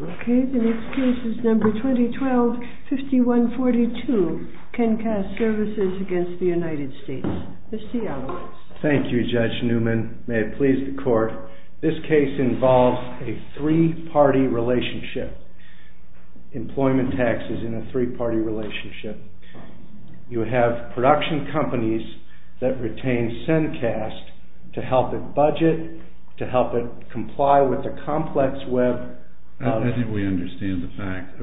Okay, the next case is number 2012-5142, CENCAST SERVICES, L.P. v. United States. Mr. Seattle. Thank you, Judge Newman. May it please the Court. This case involves a three-party relationship. Employment tax is in a three-party relationship. You have production companies that retain CENCAST to help it budget, to help it comply with the complex web. I think we understand the fact.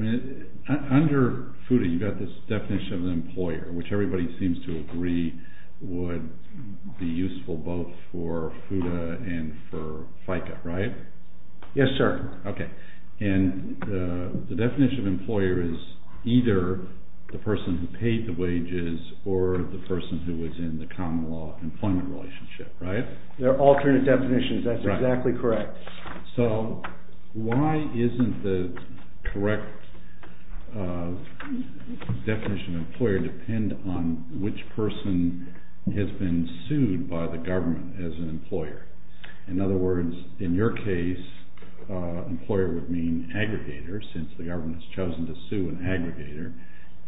Under FUTA, you've got this definition of an employer, which everybody seems to agree would be useful both for FUTA and for FICA, right? Yes, sir. Okay. And the definition of employer is either the person who paid the wages or the person who was in the common law employment relationship, right? There are alternate definitions. That's exactly correct. So why isn't the correct definition of employer depend on which person has been sued by the government as an employer? In other words, in your case, employer would mean aggregator since the government has chosen to sue an aggregator.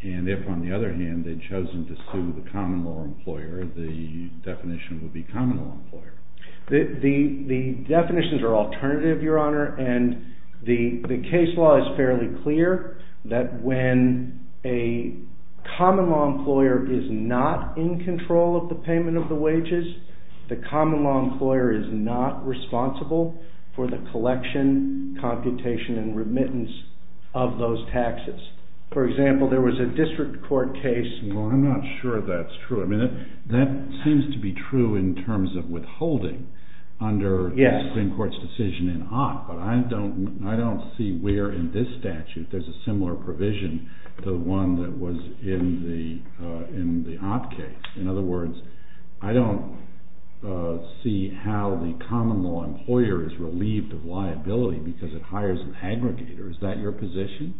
And if, on the other hand, they'd chosen to sue the common law employer, the definition would be common law employer. The definitions are alternative, Your Honor, and the case law is fairly clear that when a common law employer is not in control of the payment of the wages, the common law employer is not responsible for the collection, computation, and remittance of those taxes. For example, there was a district court case... Yes. ...under the Supreme Court's decision in Ott, but I don't see where in this statute there's a similar provision to the one that was in the Ott case. In other words, I don't see how the common law employer is relieved of liability because it hires an aggregator. Is that your position?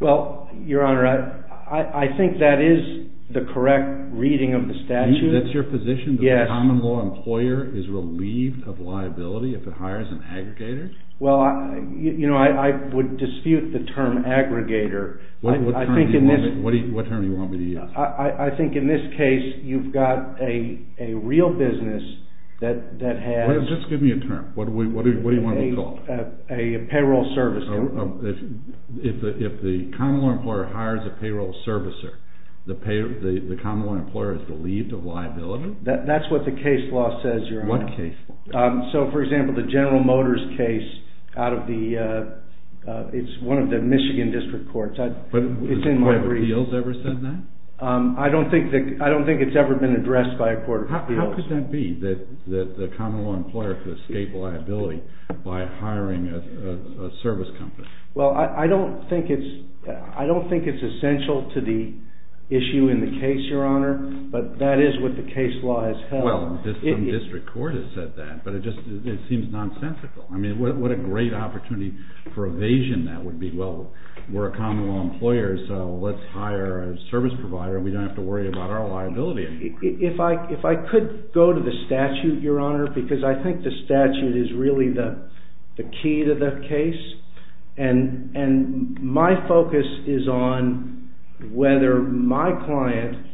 Well, Your Honor, I think that is the correct reading of the statute. That's your position? Yes. The common law employer is relieved of liability if it hires an aggregator? Well, you know, I would dispute the term aggregator. What term do you want me to use? I think in this case, you've got a real business that has... Just give me a term. What do you want me to call it? A payroll servicer. If the common law employer hires a payroll servicer, the common law employer is relieved of liability? That's what the case law says, Your Honor. What case law? So, for example, the General Motors case out of the... it's one of the Michigan District Courts. Has the Court of Appeals ever said that? I don't think it's ever been addressed by a Court of Appeals. How could that be, that the common law employer could escape liability by hiring a service company? Well, I don't think it's essential to the issue in the case, Your Honor, but that is what the case law has held. Well, some district court has said that, but it just seems nonsensical. I mean, what a great opportunity for evasion that would be. Well, we're a common law employer, so let's hire a service provider and we don't have to worry about our liability. If I could go to the statute, Your Honor, because I think the statute is really the key to the case. And my focus is on whether my client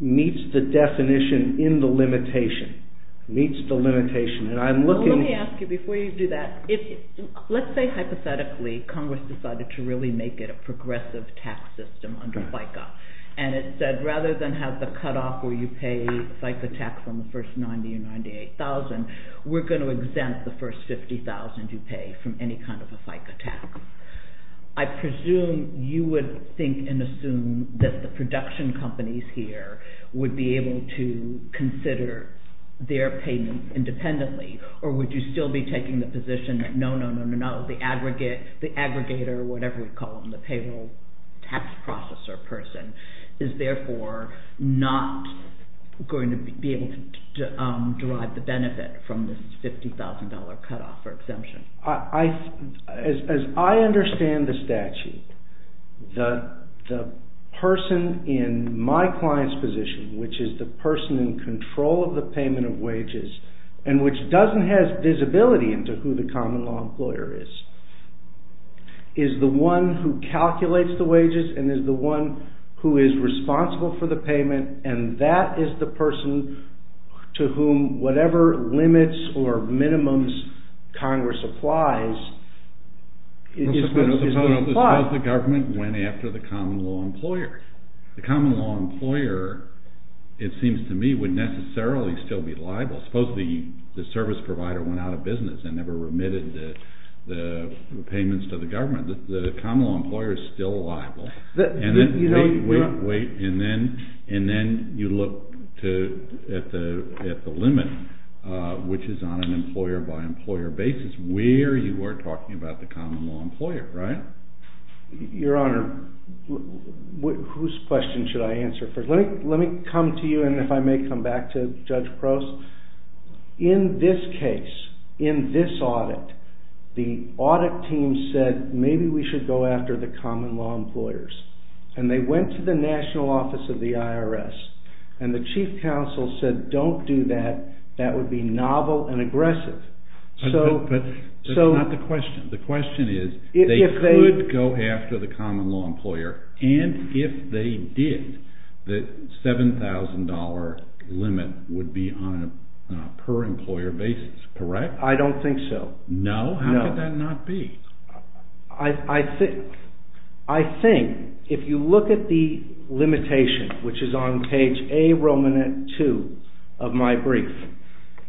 meets the definition in the limitation, meets the limitation. And I'm looking... Well, let me ask you before you do that. Let's say, hypothetically, Congress decided to really make it a progressive tax system under FICA. And it said, rather than have the cutoff where you pay FICA tax on the first $90,000 or $98,000, we're going to exempt the first $50,000 you pay from any kind of a FICA tax. I presume you would think and assume that the production companies here would be able to consider their payment independently, or would you still be taking the position that no, no, no, no, no, the aggregator, whatever we call them, the payroll tax processor person is therefore not going to be able to derive the benefit from this $50,000 cutoff or exemption. As I understand the statute, the person in my client's position, which is the person in control of the payment of wages, and which doesn't have visibility into who the common law employer is, is the one who calculates the wages and is the one who is responsible for the payment, and that is the person to whom whatever limits or minimums Congress applies. Suppose the government went after the common law employer. The common law employer, it seems to me, would necessarily still be liable. Suppose the service provider went out of business and never remitted the payments to the government. The common law employer is still liable. And then you look at the limit, which is on an employer-by-employer basis, where you are talking about the common law employer, right? Your Honor, whose question should I answer first? Let me come to you, and if I may come back to Judge Crouse. In this case, in this audit, the audit team said maybe we should go after the common law employers. And they went to the national office of the IRS, and the chief counsel said don't do that. That would be novel and aggressive. But that's not the question. The question is they could go after the common law employer, and if they did, the $7,000 limit would be on a per-employer basis, correct? I don't think so. No? How could that not be? I think if you look at the limitation, which is on page A, Romanat 2 of my brief,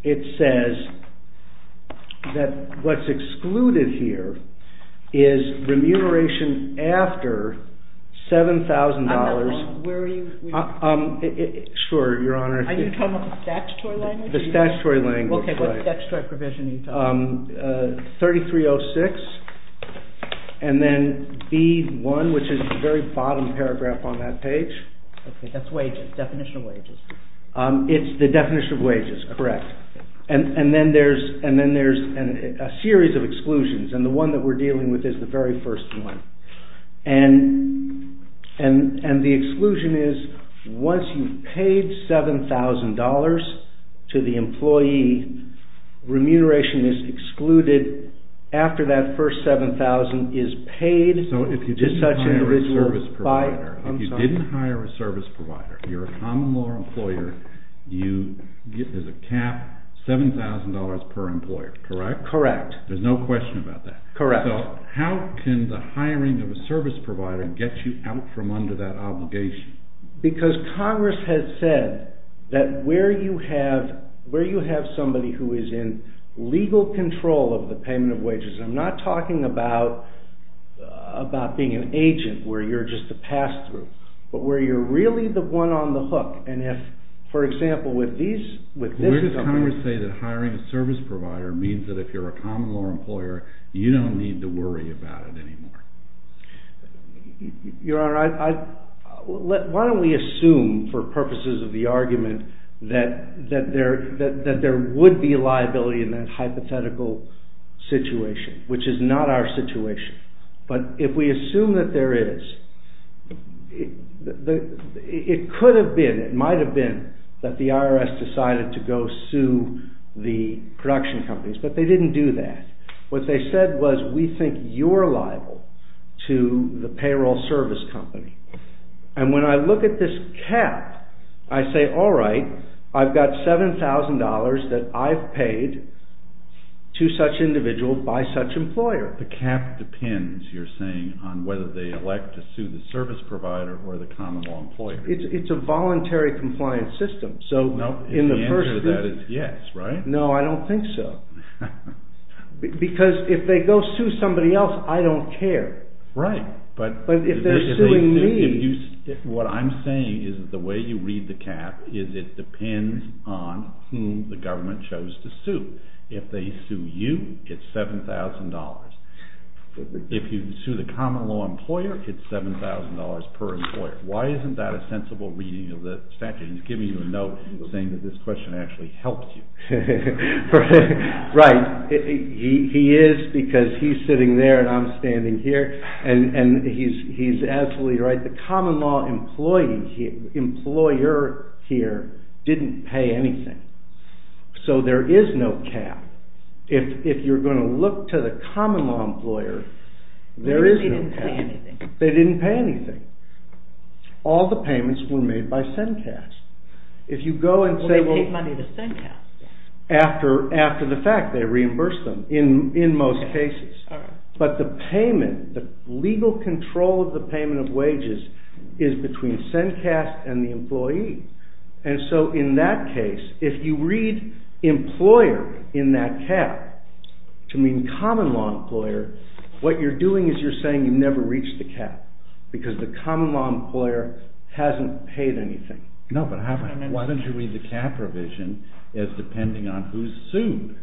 it says that what's excluded here is remuneration after $7,000. Where are you? Sure, Your Honor. Are you talking about the statutory language? The statutory language, right. Okay, what statutory provision are you talking about? 3306, and then B1, which is the very bottom paragraph on that page. Okay, that's wages, definition of wages. It's the definition of wages, correct. And then there's a series of exclusions, and the one that we're dealing with is the very first one. And the exclusion is once you've paid $7,000 to the employee, remuneration is excluded after that first $7,000 is paid to such an individual. So if you didn't hire a service provider, you're a common law employer, there's a cap, $7,000 per employer, correct? Correct. There's no question about that. Correct. So how can the hiring of a service provider get you out from under that obligation? Because Congress has said that where you have somebody who is in legal control of the payment of wages, and I'm not talking about being an agent where you're just a pass-through, but where you're really the one on the hook. And if, for example, with this government... it means that if you're a common law employer, you don't need to worry about it anymore. Your Honor, why don't we assume, for purposes of the argument, that there would be liability in that hypothetical situation, which is not our situation. But if we assume that there is, it could have been, it might have been, that the IRS decided to go sue the production companies, but they didn't do that. What they said was, we think you're liable to the payroll service company. And when I look at this cap, I say, all right, I've got $7,000 that I've paid to such individuals by such employer. The cap depends, you're saying, on whether they elect to sue the service provider or the common law employer. It's a voluntary compliance system. The answer to that is yes, right? No, I don't think so. Because if they go sue somebody else, I don't care. Right. But if they're suing me... What I'm saying is the way you read the cap is it depends on whom the government chose to sue. If they sue you, it's $7,000. If you sue the common law employer, it's $7,000 per employer. Why isn't that a sensible reading of the statute? He's giving you a note saying that this question actually helped you. Right. He is because he's sitting there and I'm standing here. And he's absolutely right. The common law employer here didn't pay anything. So there is no cap. If you're going to look to the common law employer, there is no cap. They didn't pay anything. All the payments were made by CENCAS. Well, they paid money to CENCAS. After the fact, they reimbursed them in most cases. But the payment, the legal control of the payment of wages is between CENCAS and the employee. And so in that case, if you read employer in that cap to mean common law employer, what you're doing is you're saying you never reached the cap because the common law employer hasn't paid anything. No, but why don't you read the cap provision as depending on who's sued?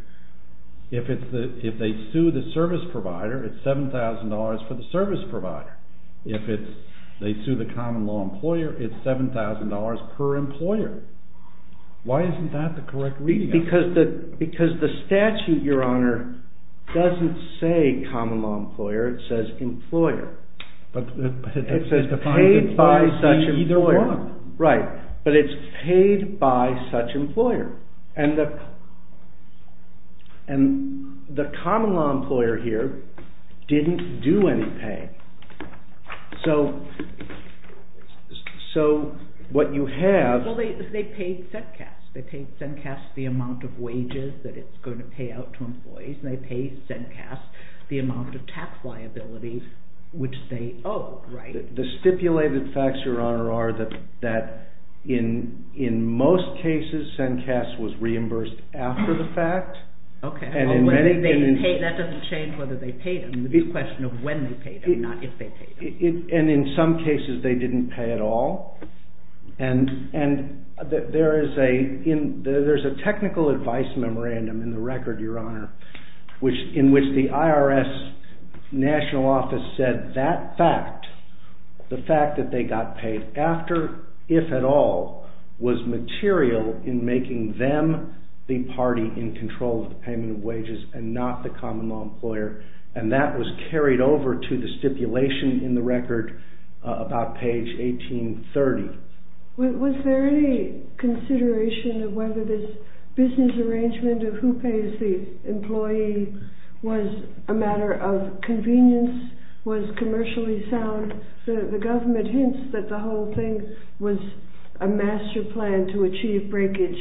If they sue the service provider, it's $7,000 for the service provider. If they sue the common law employer, it's $7,000 per employer. Why isn't that the correct reading? Because the statute, Your Honor, doesn't say common law employer. It says employer. It says paid by such employer. Right, but it's paid by such employer. And the common law employer here didn't do any pay. So what you have... Well, they paid CENCAS. They paid CENCAS the amount of wages that it's going to pay out to employees, and they paid CENCAS the amount of tax liability which they owed. The stipulated facts, Your Honor, are that in most cases CENCAS was reimbursed after the fact. Okay, that doesn't change whether they paid them. It's a question of when they paid them, not if they paid them. And in some cases they didn't pay at all. And there is a technical advice memorandum in the record, Your Honor, in which the IRS national office said that fact, the fact that they got paid after, if at all, was material in making them the party in control of the payment of wages and not the common law employer, and that was carried over to the stipulation in the record about page 1830. Was there any consideration of whether this business arrangement of who pays the employee was a matter of convenience, was commercially sound? The government hints that the whole thing was a master plan to achieve breakage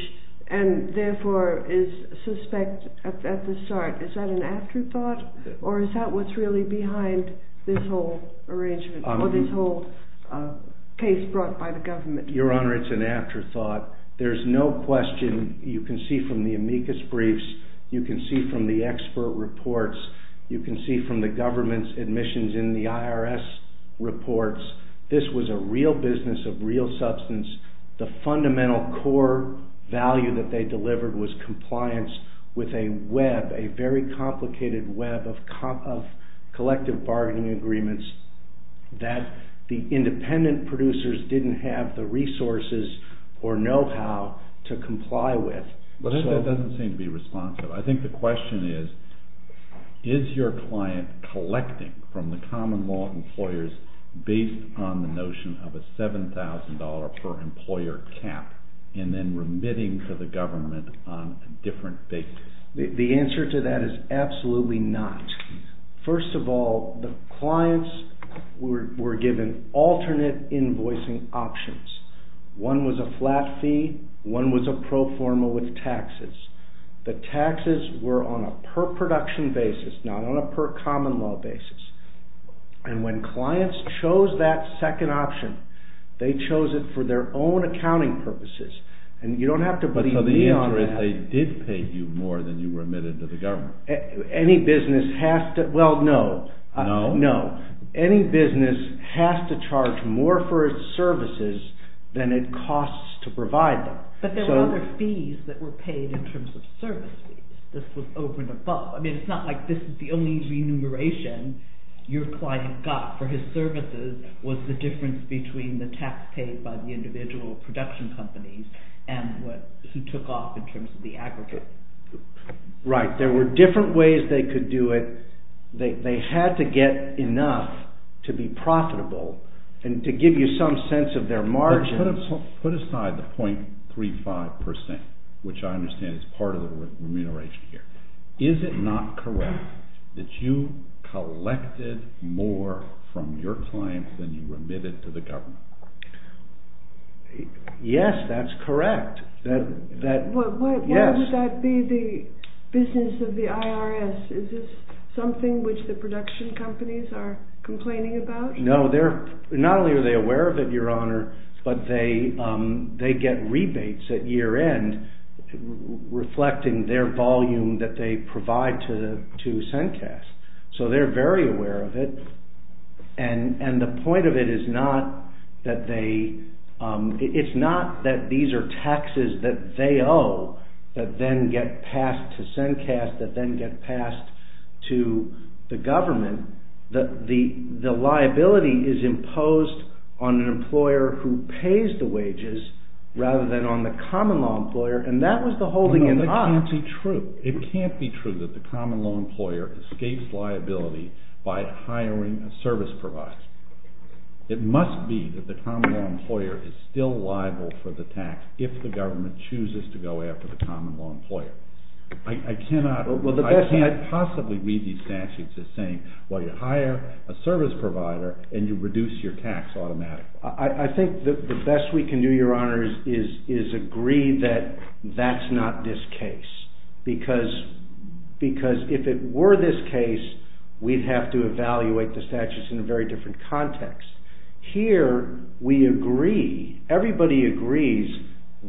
and therefore is suspect at the start. Is that an afterthought or is that what's really behind this whole arrangement or this whole case brought by the government? Your Honor, it's an afterthought. There's no question you can see from the amicus briefs, you can see from the expert reports, you can see from the government's admissions in the IRS reports, this was a real business of real substance. The fundamental core value that they delivered was compliance with a web, a very complicated web of collective bargaining agreements that the independent producers didn't have the resources or know-how to comply with. That doesn't seem to be responsive. I think the question is, is your client collecting from the common law employers based on the notion of a $7,000 per employer cap and then remitting to the government on a different basis? The answer to that is absolutely not. First of all, the clients were given alternate invoicing options. One was a flat fee, one was a pro forma with taxes. The taxes were on a per-production basis, not on a per-common law basis. When clients chose that second option, they chose it for their own accounting purposes. You don't have to believe me on that. So the answer is they did pay you more than you remitted to the government? Any business has to, well, no. No? No. Any business has to charge more for its services than it costs to provide them. But there were other fees that were paid in terms of services. This was over and above. I mean, it's not like this is the only remuneration your client got for his services was the difference between the tax paid by the individual production companies and who took off in terms of the aggregate. Right. There were different ways they could do it. They had to get enough to be profitable and to give you some sense of their margin. Put aside the .35 percent, which I understand is part of the remuneration here. Is it not correct that you collected more from your clients than you remitted to the government? Yes, that's correct. Why would that be the business of the IRS? Is this something which the production companies are complaining about? No, not only are they aware of it, Your Honor, but they get rebates at year-end reflecting their volume that they provide to CENCAS. So they're very aware of it. And the point of it is not that these are taxes that they owe that then get passed to CENCAS, that then get passed to the government. The liability is imposed on an employer who pays the wages rather than on the common-law employer, and that was the holding him up. No, that can't be true. It can't be true that the common-law employer escapes liability by hiring a service provider. It must be that the common-law employer is still liable for the tax if the government chooses to go after the common-law employer. I cannot possibly read these statutes as saying, well, you hire a service provider and you reduce your tax automatically. I think the best we can do, Your Honors, is agree that that's not this case, because if it were this case, we'd have to evaluate the statutes in a very different context. Here, we agree, everybody agrees,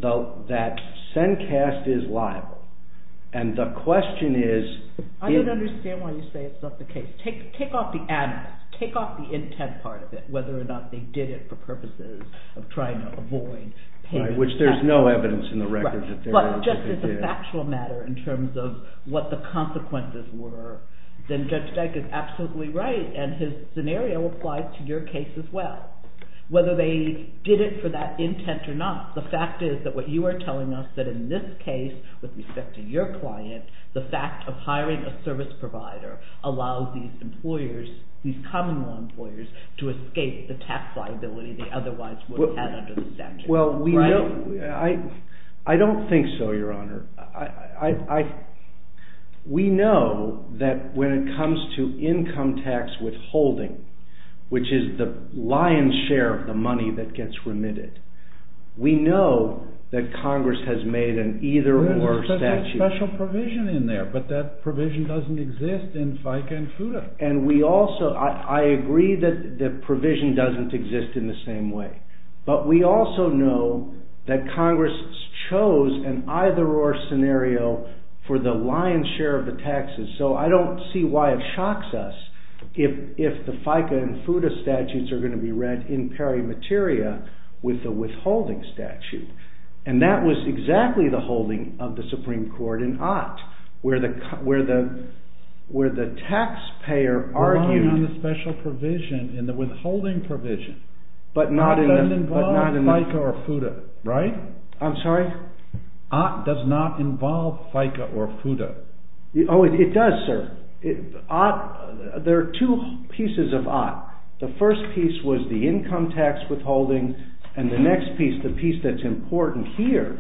that CENCAS is liable. And the question is... I don't understand why you say it's not the case. Take off the animus, take off the intent part of it, whether or not they did it for purposes of trying to avoid paying... Right, which there's no evidence in the record that they really did. But just as a factual matter in terms of what the consequences were, then Judge Dyke is absolutely right, and his scenario applies to your case as well. Whether they did it for that intent or not, the fact is that what you are telling us that in this case, with respect to your client, the fact of hiring a service provider allows these common-law employers to escape the tax liability they otherwise would have had under the statute. Well, I don't think so, Your Honor. We know that when it comes to income tax withholding, which is the lion's share of the money that gets remitted, we know that Congress has made an either-or statute... Well, there's a special provision in there, but that provision doesn't exist in FICA and FUTA. And we also... I agree that the provision doesn't exist in the same way, but we also know that Congress chose an either-or scenario for the lion's share of the taxes. So, I don't see why it shocks us if the FICA and FUTA statutes are going to be read in peri materia with the withholding statute. And that was exactly the holding of the Supreme Court in Ott, where the taxpayer argued... It doesn't involve FICA or FUTA, right? I'm sorry? Ott does not involve FICA or FUTA. Oh, it does, sir. There are two pieces of Ott. The first piece was the income tax withholding, and the next piece, the piece that's important here,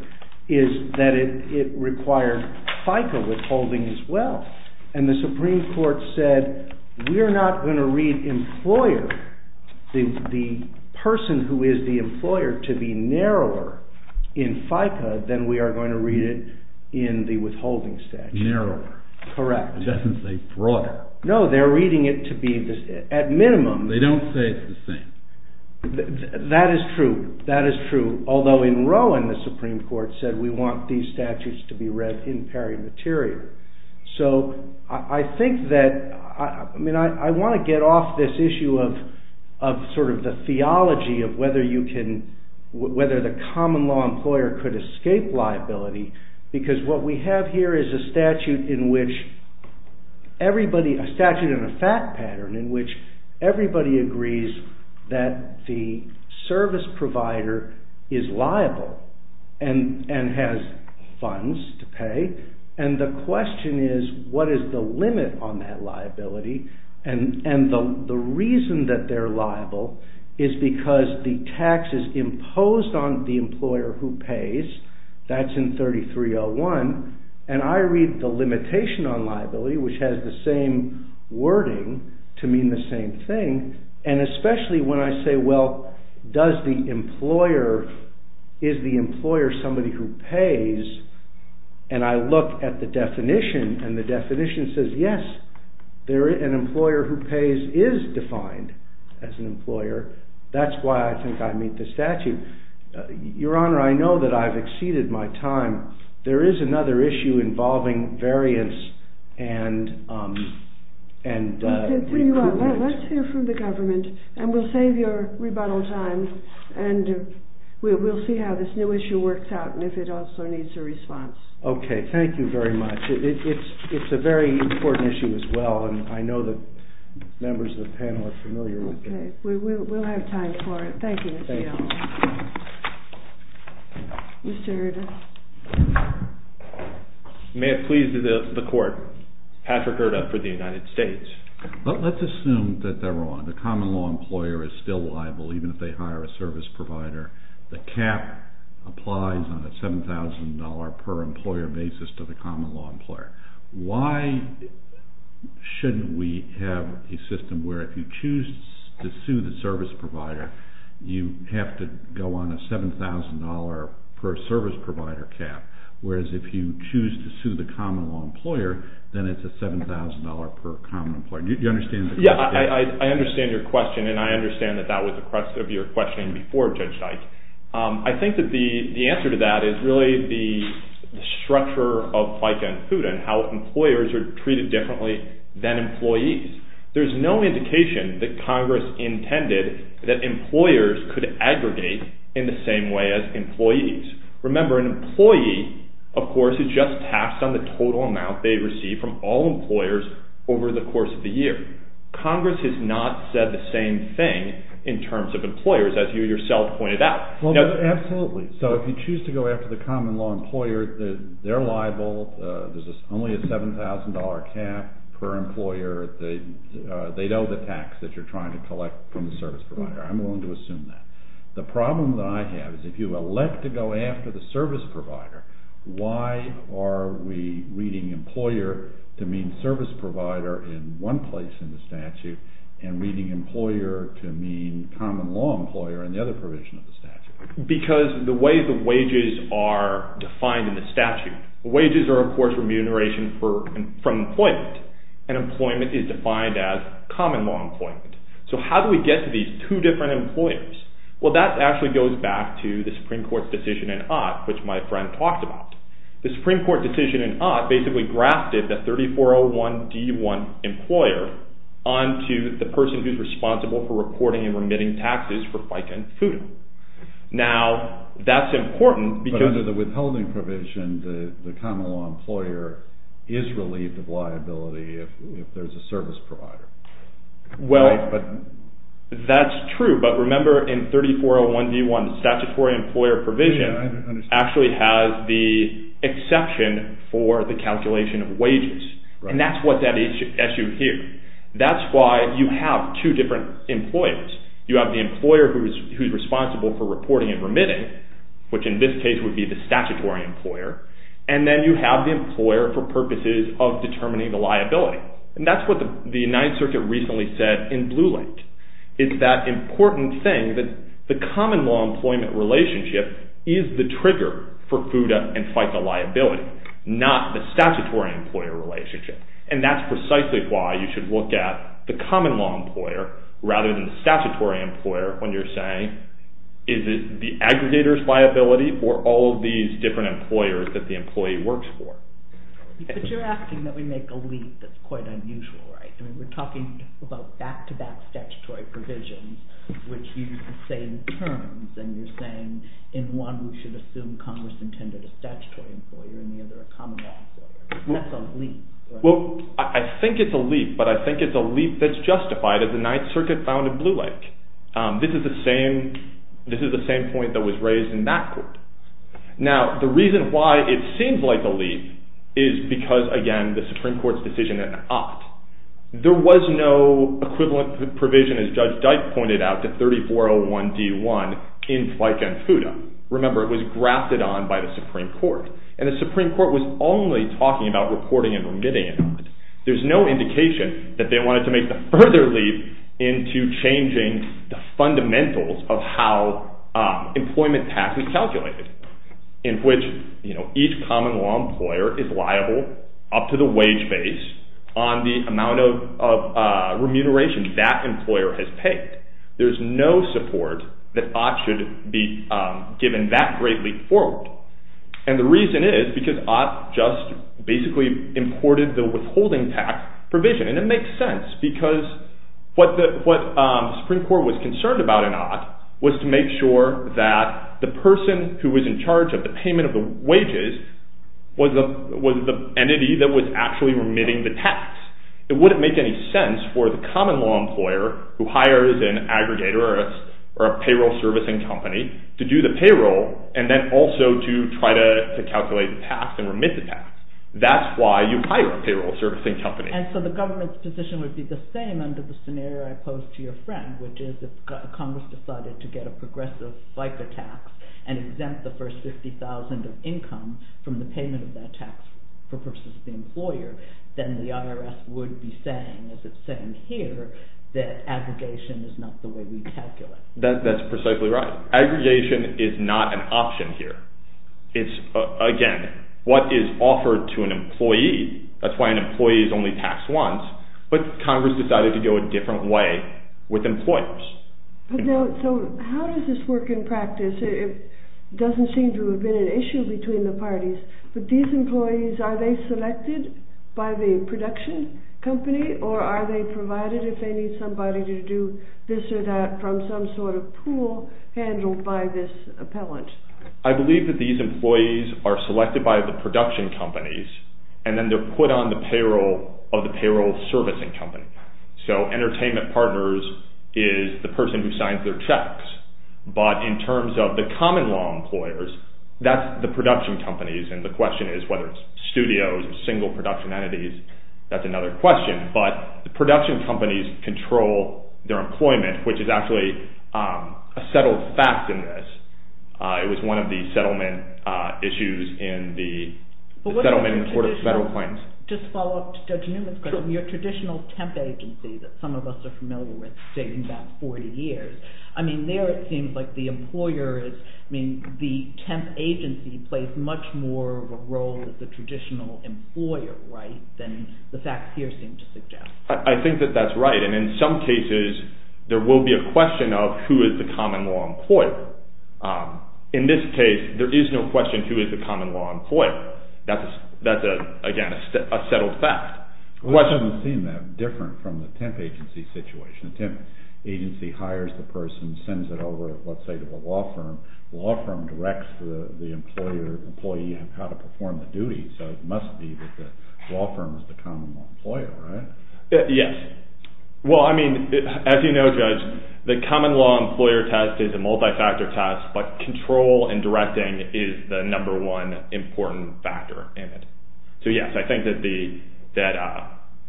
is that it required FICA withholding as well. And the Supreme Court said, we're not going to read the person who is the employer to be narrower in FICA than we are going to read it in the withholding statute. Narrower. Correct. It doesn't say broader. No, they're reading it to be at minimum... They don't say it's the same. That is true. Although in Rowan, the Supreme Court said, we want these statutes to be read in peri materia. So I think that... I mean, I want to get off this issue of sort of the theology of whether the common law employer could escape liability, because what we have here is a statute in which everybody... A statute in a fact pattern in which everybody agrees that the service provider is liable and has funds to pay, and the question is, what is the limit on that liability? And the reason that they're liable is because the tax is imposed on the employer who pays. That's in 3301. And I read the limitation on liability, which has the same wording to mean the same thing, and especially when I say, well, does the employer... Is the employer somebody who pays? And I look at the definition, and the definition says, yes, an employer who pays is defined as an employer. That's why I think I meet the statute. Your Honour, I know that I've exceeded my time. There is another issue involving variance and... Let's hear from the government, and we'll save your rebuttal time, and we'll see how this new issue works out and if it also needs a response. Okay, thank you very much. It's a very important issue as well, and I know that members of the panel are familiar with it. Okay, we'll have time for it. Thank you, Mr. Yeltsin. Mr. Hurta. May it please the Court, Patrick Hurta for the United States. Let's assume that they're wrong. The common law employer is still liable even if they hire a service provider. The cap applies on a $7,000 per employer basis to the common law employer. Why shouldn't we have a system where if you choose to sue the service provider, you have to go on a $7,000 per service provider cap, whereas if you choose to sue the common law employer, then it's a $7,000 per common employer. Do you understand the question? Yeah, I understand your question, and I understand that that was the crux of your question before Judge Dyke. I think that the answer to that is really the structure of FICA and HUD and how employers are treated differently than employees. There's no indication that Congress intended that employers could aggregate in the same way as employees. Remember, an employee, of course, is just taxed on the total amount they receive from all employers over the course of the year. Congress has not said the same thing in terms of employers, as you yourself pointed out. Absolutely. So if you choose to go after the common law employer, they're liable. There's only a $7,000 cap per employer. They know the tax that you're trying to collect from the service provider. I'm willing to assume that. The problem that I have is if you elect to go after the service provider, why are we reading employer to mean service provider in one place in the statute and reading employer to mean common law employer in the other provision of the statute? Because the way the wages are defined in the statute, wages are, of course, remuneration from employment, and employment is defined as common law employment. So how do we get to these two different employers? Well, that actually goes back to the Supreme Court's decision in Ott, which my friend talked about. The Supreme Court decision in Ott basically grafted the 3401D1 employer onto the person who's responsible for reporting and remitting taxes for FICA and FUTA. Now, that's important because... But under the withholding provision, the common law employer is relieved of liability if there's a service provider. Well, that's true, but remember in 3401D1, the statutory employer provision actually has the exception for the calculation of wages, and that's what's at issue here. That's why you have two different employers. You have the employer who's responsible for reporting and remitting, which in this case would be the statutory employer, and then you have the employer for purposes of determining the liability. And that's what the United Circuit recently said in Blue Link, is that important thing, that the common law employment relationship is the trigger for FUTA and FICA liability, not the statutory employer relationship. And that's precisely why you should look at the common law employer rather than the statutory employer when you're saying, is it the aggregator's liability or all of these different employers that the employee works for? But you're asking that we make a leap that's quite unusual, right? I mean, we're talking about back-to-back statutory provisions which use the same terms, and you're saying in one we should assume Congress intended a statutory employer, in the other a common law employer. That's a leap, right? Well, I think it's a leap, but I think it's a leap that's justified as the Ninth Circuit found in Blue Link. This is the same point that was raised in that court. Now, the reason why it seems like a leap is because, again, the Supreme Court's decision at an opt. There was no equivalent provision, as Judge Dyke pointed out, to 3401D1 in FICA and FUTA. Remember, it was grafted on by the Supreme Court, and the Supreme Court was only talking about reporting and remitting on it. There's no indication that they wanted to make the further leap into changing the fundamentals of how employment tax is calculated, in which, you know, each common law employer is liable up to the wage base on the amount of remuneration that employer has paid. There's no support that ought to be given that great leap forward. And the reason is because ought just basically imported the withholding tax provision, and it makes sense because what the Supreme Court was concerned about in ought was to make sure that the person who was in charge of the payment of the wages was the entity that was actually remitting the tax. It wouldn't make any sense for the common law employer who hires an aggregator or a payroll servicing company to do the payroll and then also to try to calculate the tax and remit the tax. That's why you hire a payroll servicing company. And so the government's position would be the same under the scenario I posed to your friend, which is if Congress decided to get a progressive FICA tax and exempt the first $50,000 of income from the payment of that tax for purposes of the employer, then the IRS would be saying, as it's saying here, that aggregation is not the way we calculate. That's precisely right. Aggregation is not an option here. It's, again, what is offered to an employee. That's why an employee is only taxed once, but Congress decided to go a different way with employers. So how does this work in practice? It doesn't seem to have been an issue between the parties, but these employees, are they selected by the production company or are they provided if they need somebody to do this or that from some sort of pool handled by this appellant? I believe that these employees are selected by the production companies, and then they're put on the payroll of the payroll servicing company. So Entertainment Partners is the person who signs their checks, but in terms of the common law employers, that's the production companies, and the question is whether it's studios or single production entities. That's another question, but the production companies control their employment, which is actually a settled fact in this. It was one of the settlement issues in the Settlement and Court of Federal Claims. Just to follow up to Judge Newman's question, your traditional temp agency that some of us are familiar with dating back 40 years, I mean, there it seems like the employer is, I mean, the temp agency plays much more of a role as the traditional employer, right, than the facts here seem to suggest. I think that that's right, and in some cases there will be a question of who is the common law employer. In this case, there is no question who is the common law employer. That's, again, a settled fact. It doesn't seem that different from the temp agency situation. The temp agency hires the person, sends it over, let's say, to the law firm. The law firm directs the employer, how to perform the duties, so it must be that the law firm is the common law employer, right? Yes. Well, I mean, as you know, Judge, the common law employer test is a multi-factor test, but control and directing is the number one important factor in it. So, yes, I think that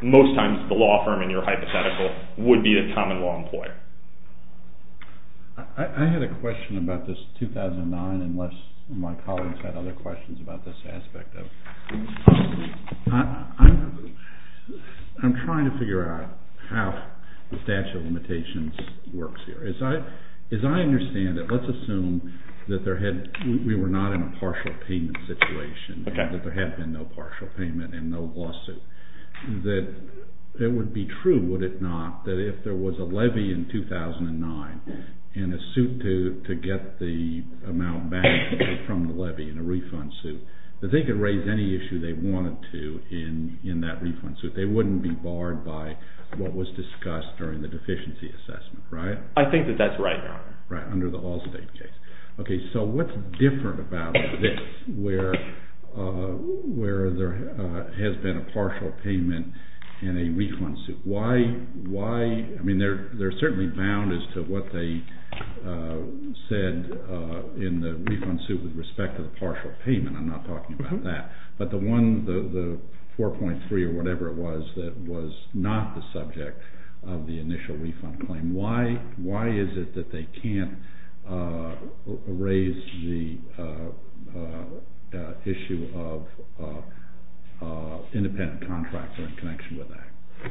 most times the law firm, in your hypothetical, would be the common law employer. I had a question about this 2009, unless my colleagues had other questions about this aspect. I'm trying to figure out how the statute of limitations works here. As I understand it, let's assume that we were not in a partial payment situation, that there had been no partial payment and no lawsuit, that it would be true, would it not, that if there was a levy in 2009 and a suit to get the amount back from the levy in a refund suit, that they could raise any issue they wanted to in that refund suit. They wouldn't be barred by what was discussed during the deficiency assessment, right? I think that that's right now. Right, under the Allstate case. Okay, so what's different about this where there has been a partial payment in a refund suit? I mean, they're certainly bound as to what they said in the refund suit with respect to the partial payment. I'm not talking about that. But the 4.3 or whatever it was that was not the subject of the initial refund claim, why is it that they can't raise the issue of independent contractor in connection with that?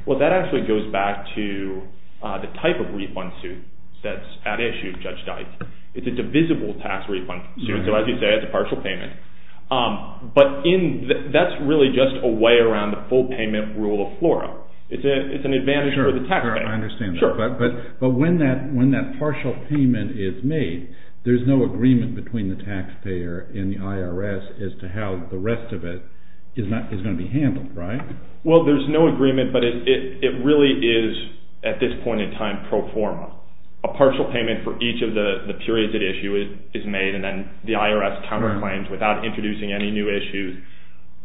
Well, that actually goes back to the type of refund suit that's at issue, Judge Dike. It's a divisible tax refund suit, so as you say, it's a partial payment. But that's really just a way around the full payment rule of FLORA. It's an advantage for the taxpayer. Sure, I understand that. But when that partial payment is made, there's no agreement between the taxpayer and the IRS as to how the rest of it is going to be handled, right? Well, there's no agreement, but it really is at this point in time pro forma. A partial payment for each of the periods at issue is made, and then the IRS counterclaims without introducing any new issues,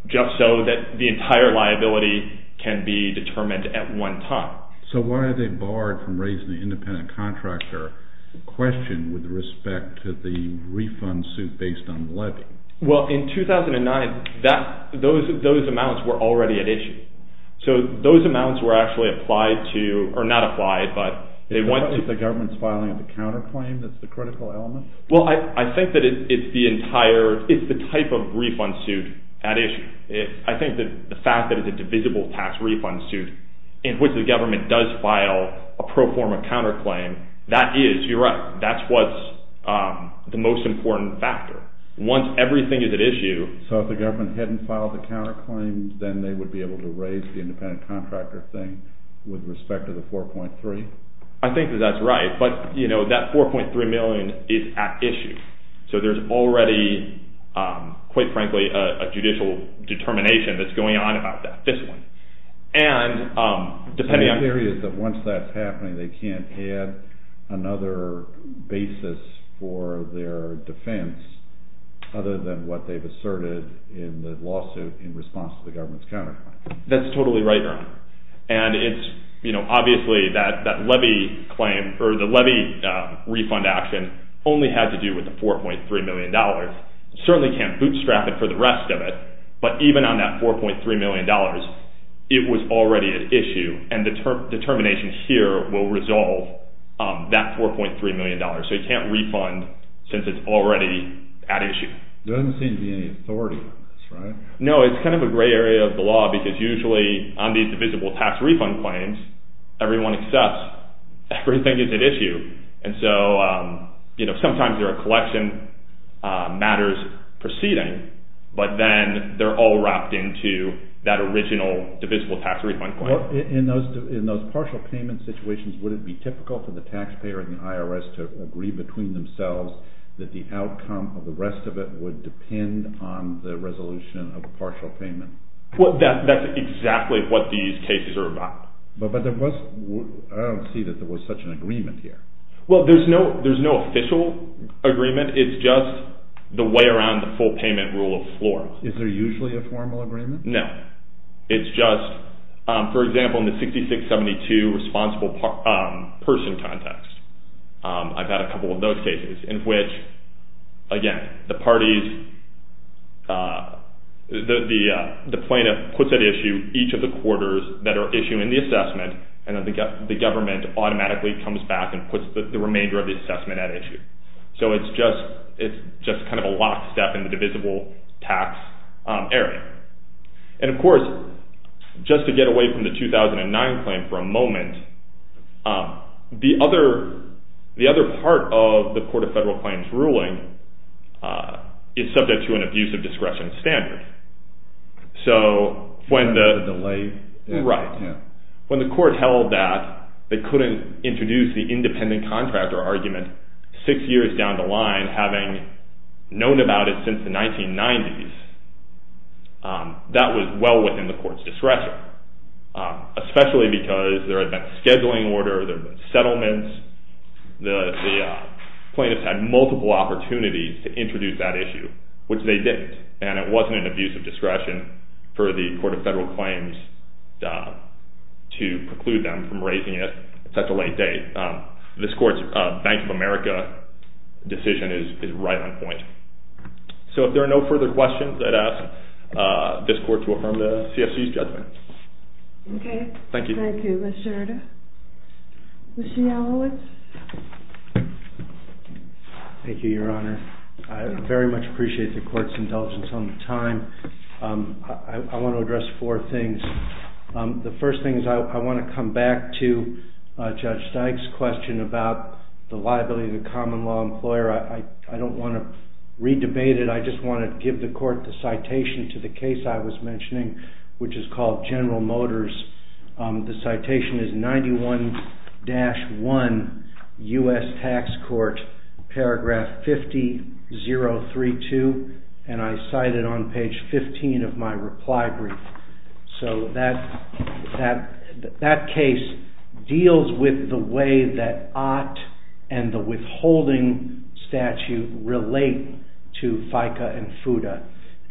just so that the entire liability can be determined at one time. So why are they barred from raising the independent contractor question with respect to the refund suit based on the levy? Well, in 2009, those amounts were already at issue. So those amounts were actually applied to—or not applied, but they went to— Is the government's filing of the counterclaim that's the critical element? Well, I think that it's the type of refund suit at issue. I think the fact that it's a divisible tax refund suit in which the government does file a pro forma counterclaim, that is—you're right—that's what's the most important factor. Once everything is at issue— So if the government hadn't filed the counterclaims, then they would be able to raise the independent contractor thing with respect to the 4.3? I think that that's right, but that 4.3 million is at issue. So there's already, quite frankly, a judicial determination that's going on about that fiscally. So the theory is that once that's happening, they can't add another basis for their defense other than what they've asserted in the lawsuit in response to the government's counterclaim. That's totally right, Ernie. And it's—you know, obviously, that levy claim— or the levy refund action only had to do with the $4.3 million. Certainly can't bootstrap it for the rest of it, but even on that $4.3 million, it was already at issue. And the determination here will resolve that $4.3 million. So you can't refund since it's already at issue. There doesn't seem to be any authority on this, right? No, it's kind of a gray area of the law because usually on these divisible tax refund claims, everyone accepts everything is at issue. And so, you know, sometimes there are collection matters proceeding, but then they're all wrapped into that original divisible tax refund claim. Well, in those partial payment situations, would it be typical for the taxpayer and the IRS to agree between themselves that the outcome of the rest of it would depend on the resolution of a partial payment? Well, that's exactly what these cases are about. But there was—I don't see that there was such an agreement here. Well, there's no official agreement. It's just the way around the full payment rule of the floor. Is there usually a formal agreement? No. It's just, for example, in the 6672 responsible person context, I've had a couple of those cases in which, again, the parties— the plaintiff puts at issue each of the quarters that are issued in the assessment and then the government automatically comes back and puts the remainder of the assessment at issue. So it's just kind of a lockstep in the divisible tax area. And, of course, just to get away from the 2009 claim for a moment, the other part of the Court of Federal Claims ruling is subject to an abuse of discretion standard. So when the— The delay? Right. When the court held that they couldn't introduce the independent contractor argument six years down the line, having known about it since the 1990s, that was well within the court's discretion, especially because there had been a scheduling order, there had been settlements. The plaintiffs had multiple opportunities to introduce that issue, which they didn't. And it wasn't an abuse of discretion for the Court of Federal Claims to preclude them from raising it at such a late date. This court's Bank of America decision is right on point. So if there are no further questions, I'd ask this court to affirm the CFC's judgment. Okay. Thank you. Thank you, Mr. Arda. Mr. Yalowitz? Thank you, Your Honor. I very much appreciate the court's indulgence on the time. I want to address four things. The first thing is I want to come back to Judge Dyke's question about the liability of the common law employer. I don't want to re-debate it. I just want to give the court the citation to the case I was mentioning, which is called General Motors. The citation is 91-1, U.S. Tax Court, paragraph 50-032, and I cite it on page 15 of my reply brief. So that case deals with the way that ought and the withholding statute relate to FICA and FUTA,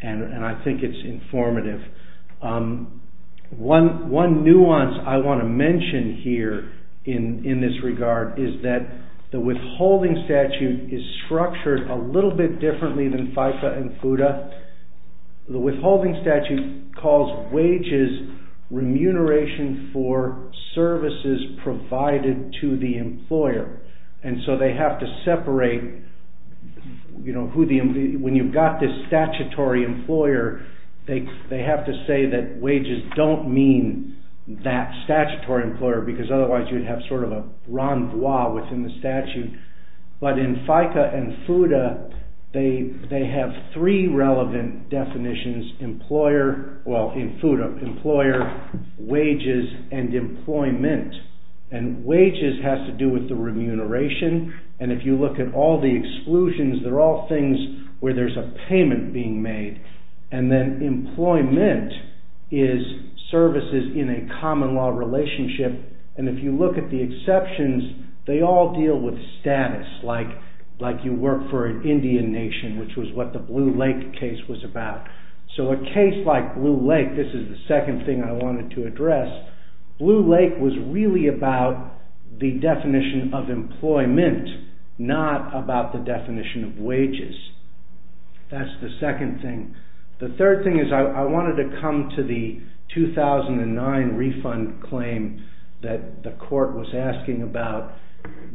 and I think it's informative. One nuance I want to mention here in this regard is that the withholding statute is structured a little bit differently than FICA and FUTA. The withholding statute calls wages remuneration for services provided to the employer, and so they have to separate. When you've got this statutory employer, they have to say that wages don't mean that statutory employer because otherwise you'd have sort of a renvoi within the statute, but in FICA and FUTA, they have three relevant definitions, employer, wages, and employment, and wages has to do with the remuneration, and if you look at all the exclusions, they're all things where there's a payment being made, and then employment is services in a common law relationship, and if you look at the exceptions, they all deal with status, like you work for an Indian nation, which was what the Blue Lake case was about. So a case like Blue Lake, this is the second thing I wanted to address, Blue Lake was really about the definition of employment, not about the definition of wages. That's the second thing. The third thing is I wanted to come to the 2009 refund claim that the court was asking about.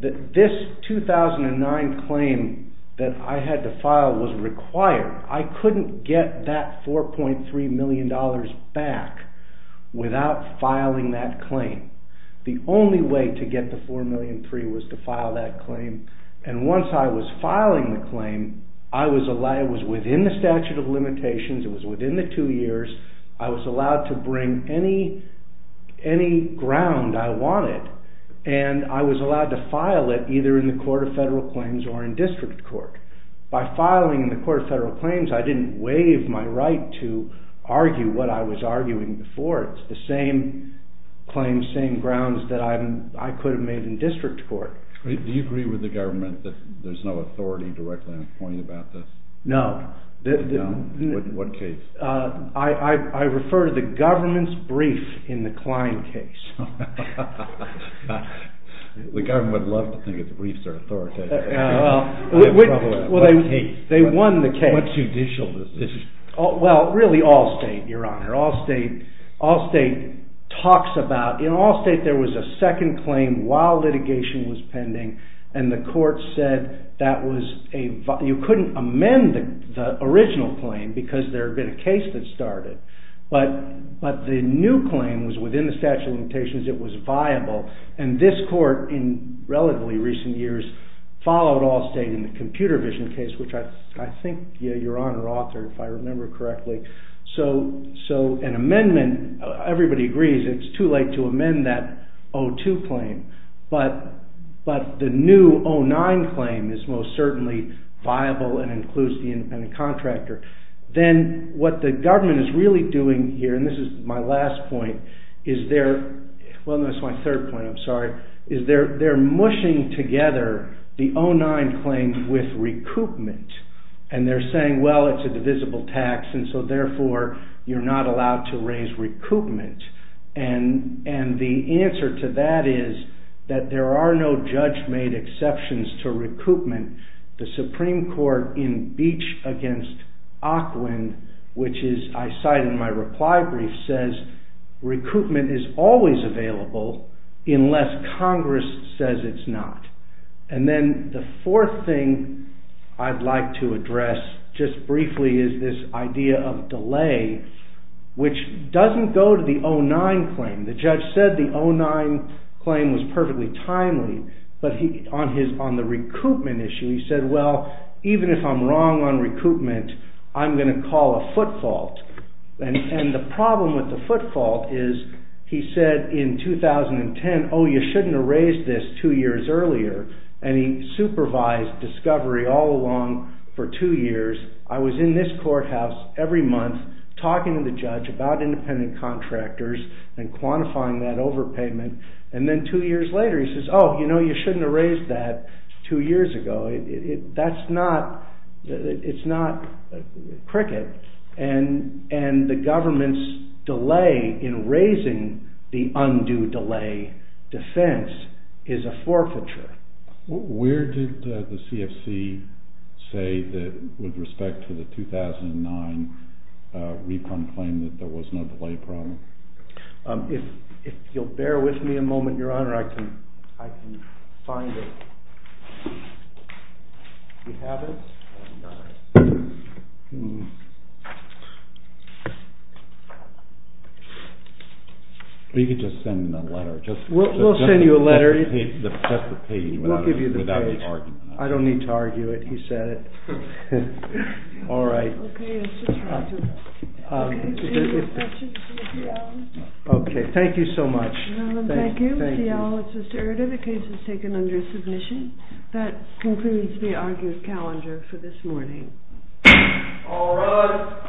This 2009 claim that I had to file was required. I couldn't get that $4.3 million back without filing that claim. The only way to get the $4.3 million was to file that claim, and once I was filing the claim, it was within the statute of limitations, it was within the two years, I was allowed to bring any ground I wanted, and I was allowed to file it either in the Court of Federal Claims or in District Court. By filing in the Court of Federal Claims, I didn't waive my right to argue what I was arguing before. It's the same claims, same grounds, that I could have made in District Court. Do you agree with the government that there's no authority directly in appointing about this? No. In what case? I refer to the government's brief in the Klein case. The government would love to think that the briefs are authoritative. Well, they won the case. What judicial is this? Well, really Allstate, Your Honor. Allstate talks about... In Allstate, there was a second claim while litigation was pending, and the court said that you couldn't amend the original claim because there had been a case that started. But the new claim was within the statute of limitations. It was viable. And this court, in relatively recent years, followed Allstate in the Computer Vision case, which I think, Your Honor, authored, if I remember correctly. So an amendment... Everybody agrees it's too late to amend that O2 claim, but the new O9 claim is most certainly viable and includes the independent contractor. Then, what the government is really doing here, and this is my last point, is they're... Well, that's my third point, I'm sorry. Is they're mushing together the O9 claim with recoupment. And they're saying, well, it's a divisible tax, and so, therefore, you're not allowed to raise recoupment. And the answer to that is that there are no judge-made exceptions to recoupment. The Supreme Court in Beach v. Ocklin, which I cite in my reply brief, says recoupment is always available unless Congress says it's not. And then the fourth thing I'd like to address, just briefly, is this idea of delay, which doesn't go to the O9 claim. The judge said the O9 claim was perfectly timely, but on the recoupment issue, he said, well, even if I'm wrong on recoupment, I'm going to call a foot fault. And the problem with the foot fault is, he said in 2010, oh, you shouldn't have raised this two years earlier. And he supervised discovery all along for two years. I was in this courthouse every month talking to the judge about independent contractors and quantifying that overpayment. And then two years later, he says, oh, you know, you shouldn't have raised that two years ago. That's not, it's not cricket. And the government's delay in raising the undue delay defense is a forfeiture. Where did the CFC say that, with respect to the 2009 recoupment claim, that there was no delay problem? If you'll bear with me a moment, Your Honor, I can find it. Do you have it? You could just send a letter. We'll send you a letter. We'll give you the page. I don't need to argue it. He said it. All right. Okay, thank you so much. Your Honor, thank you. Mr. Eerder, the case is taken under submission. That concludes the argued calendar for this morning. All rise.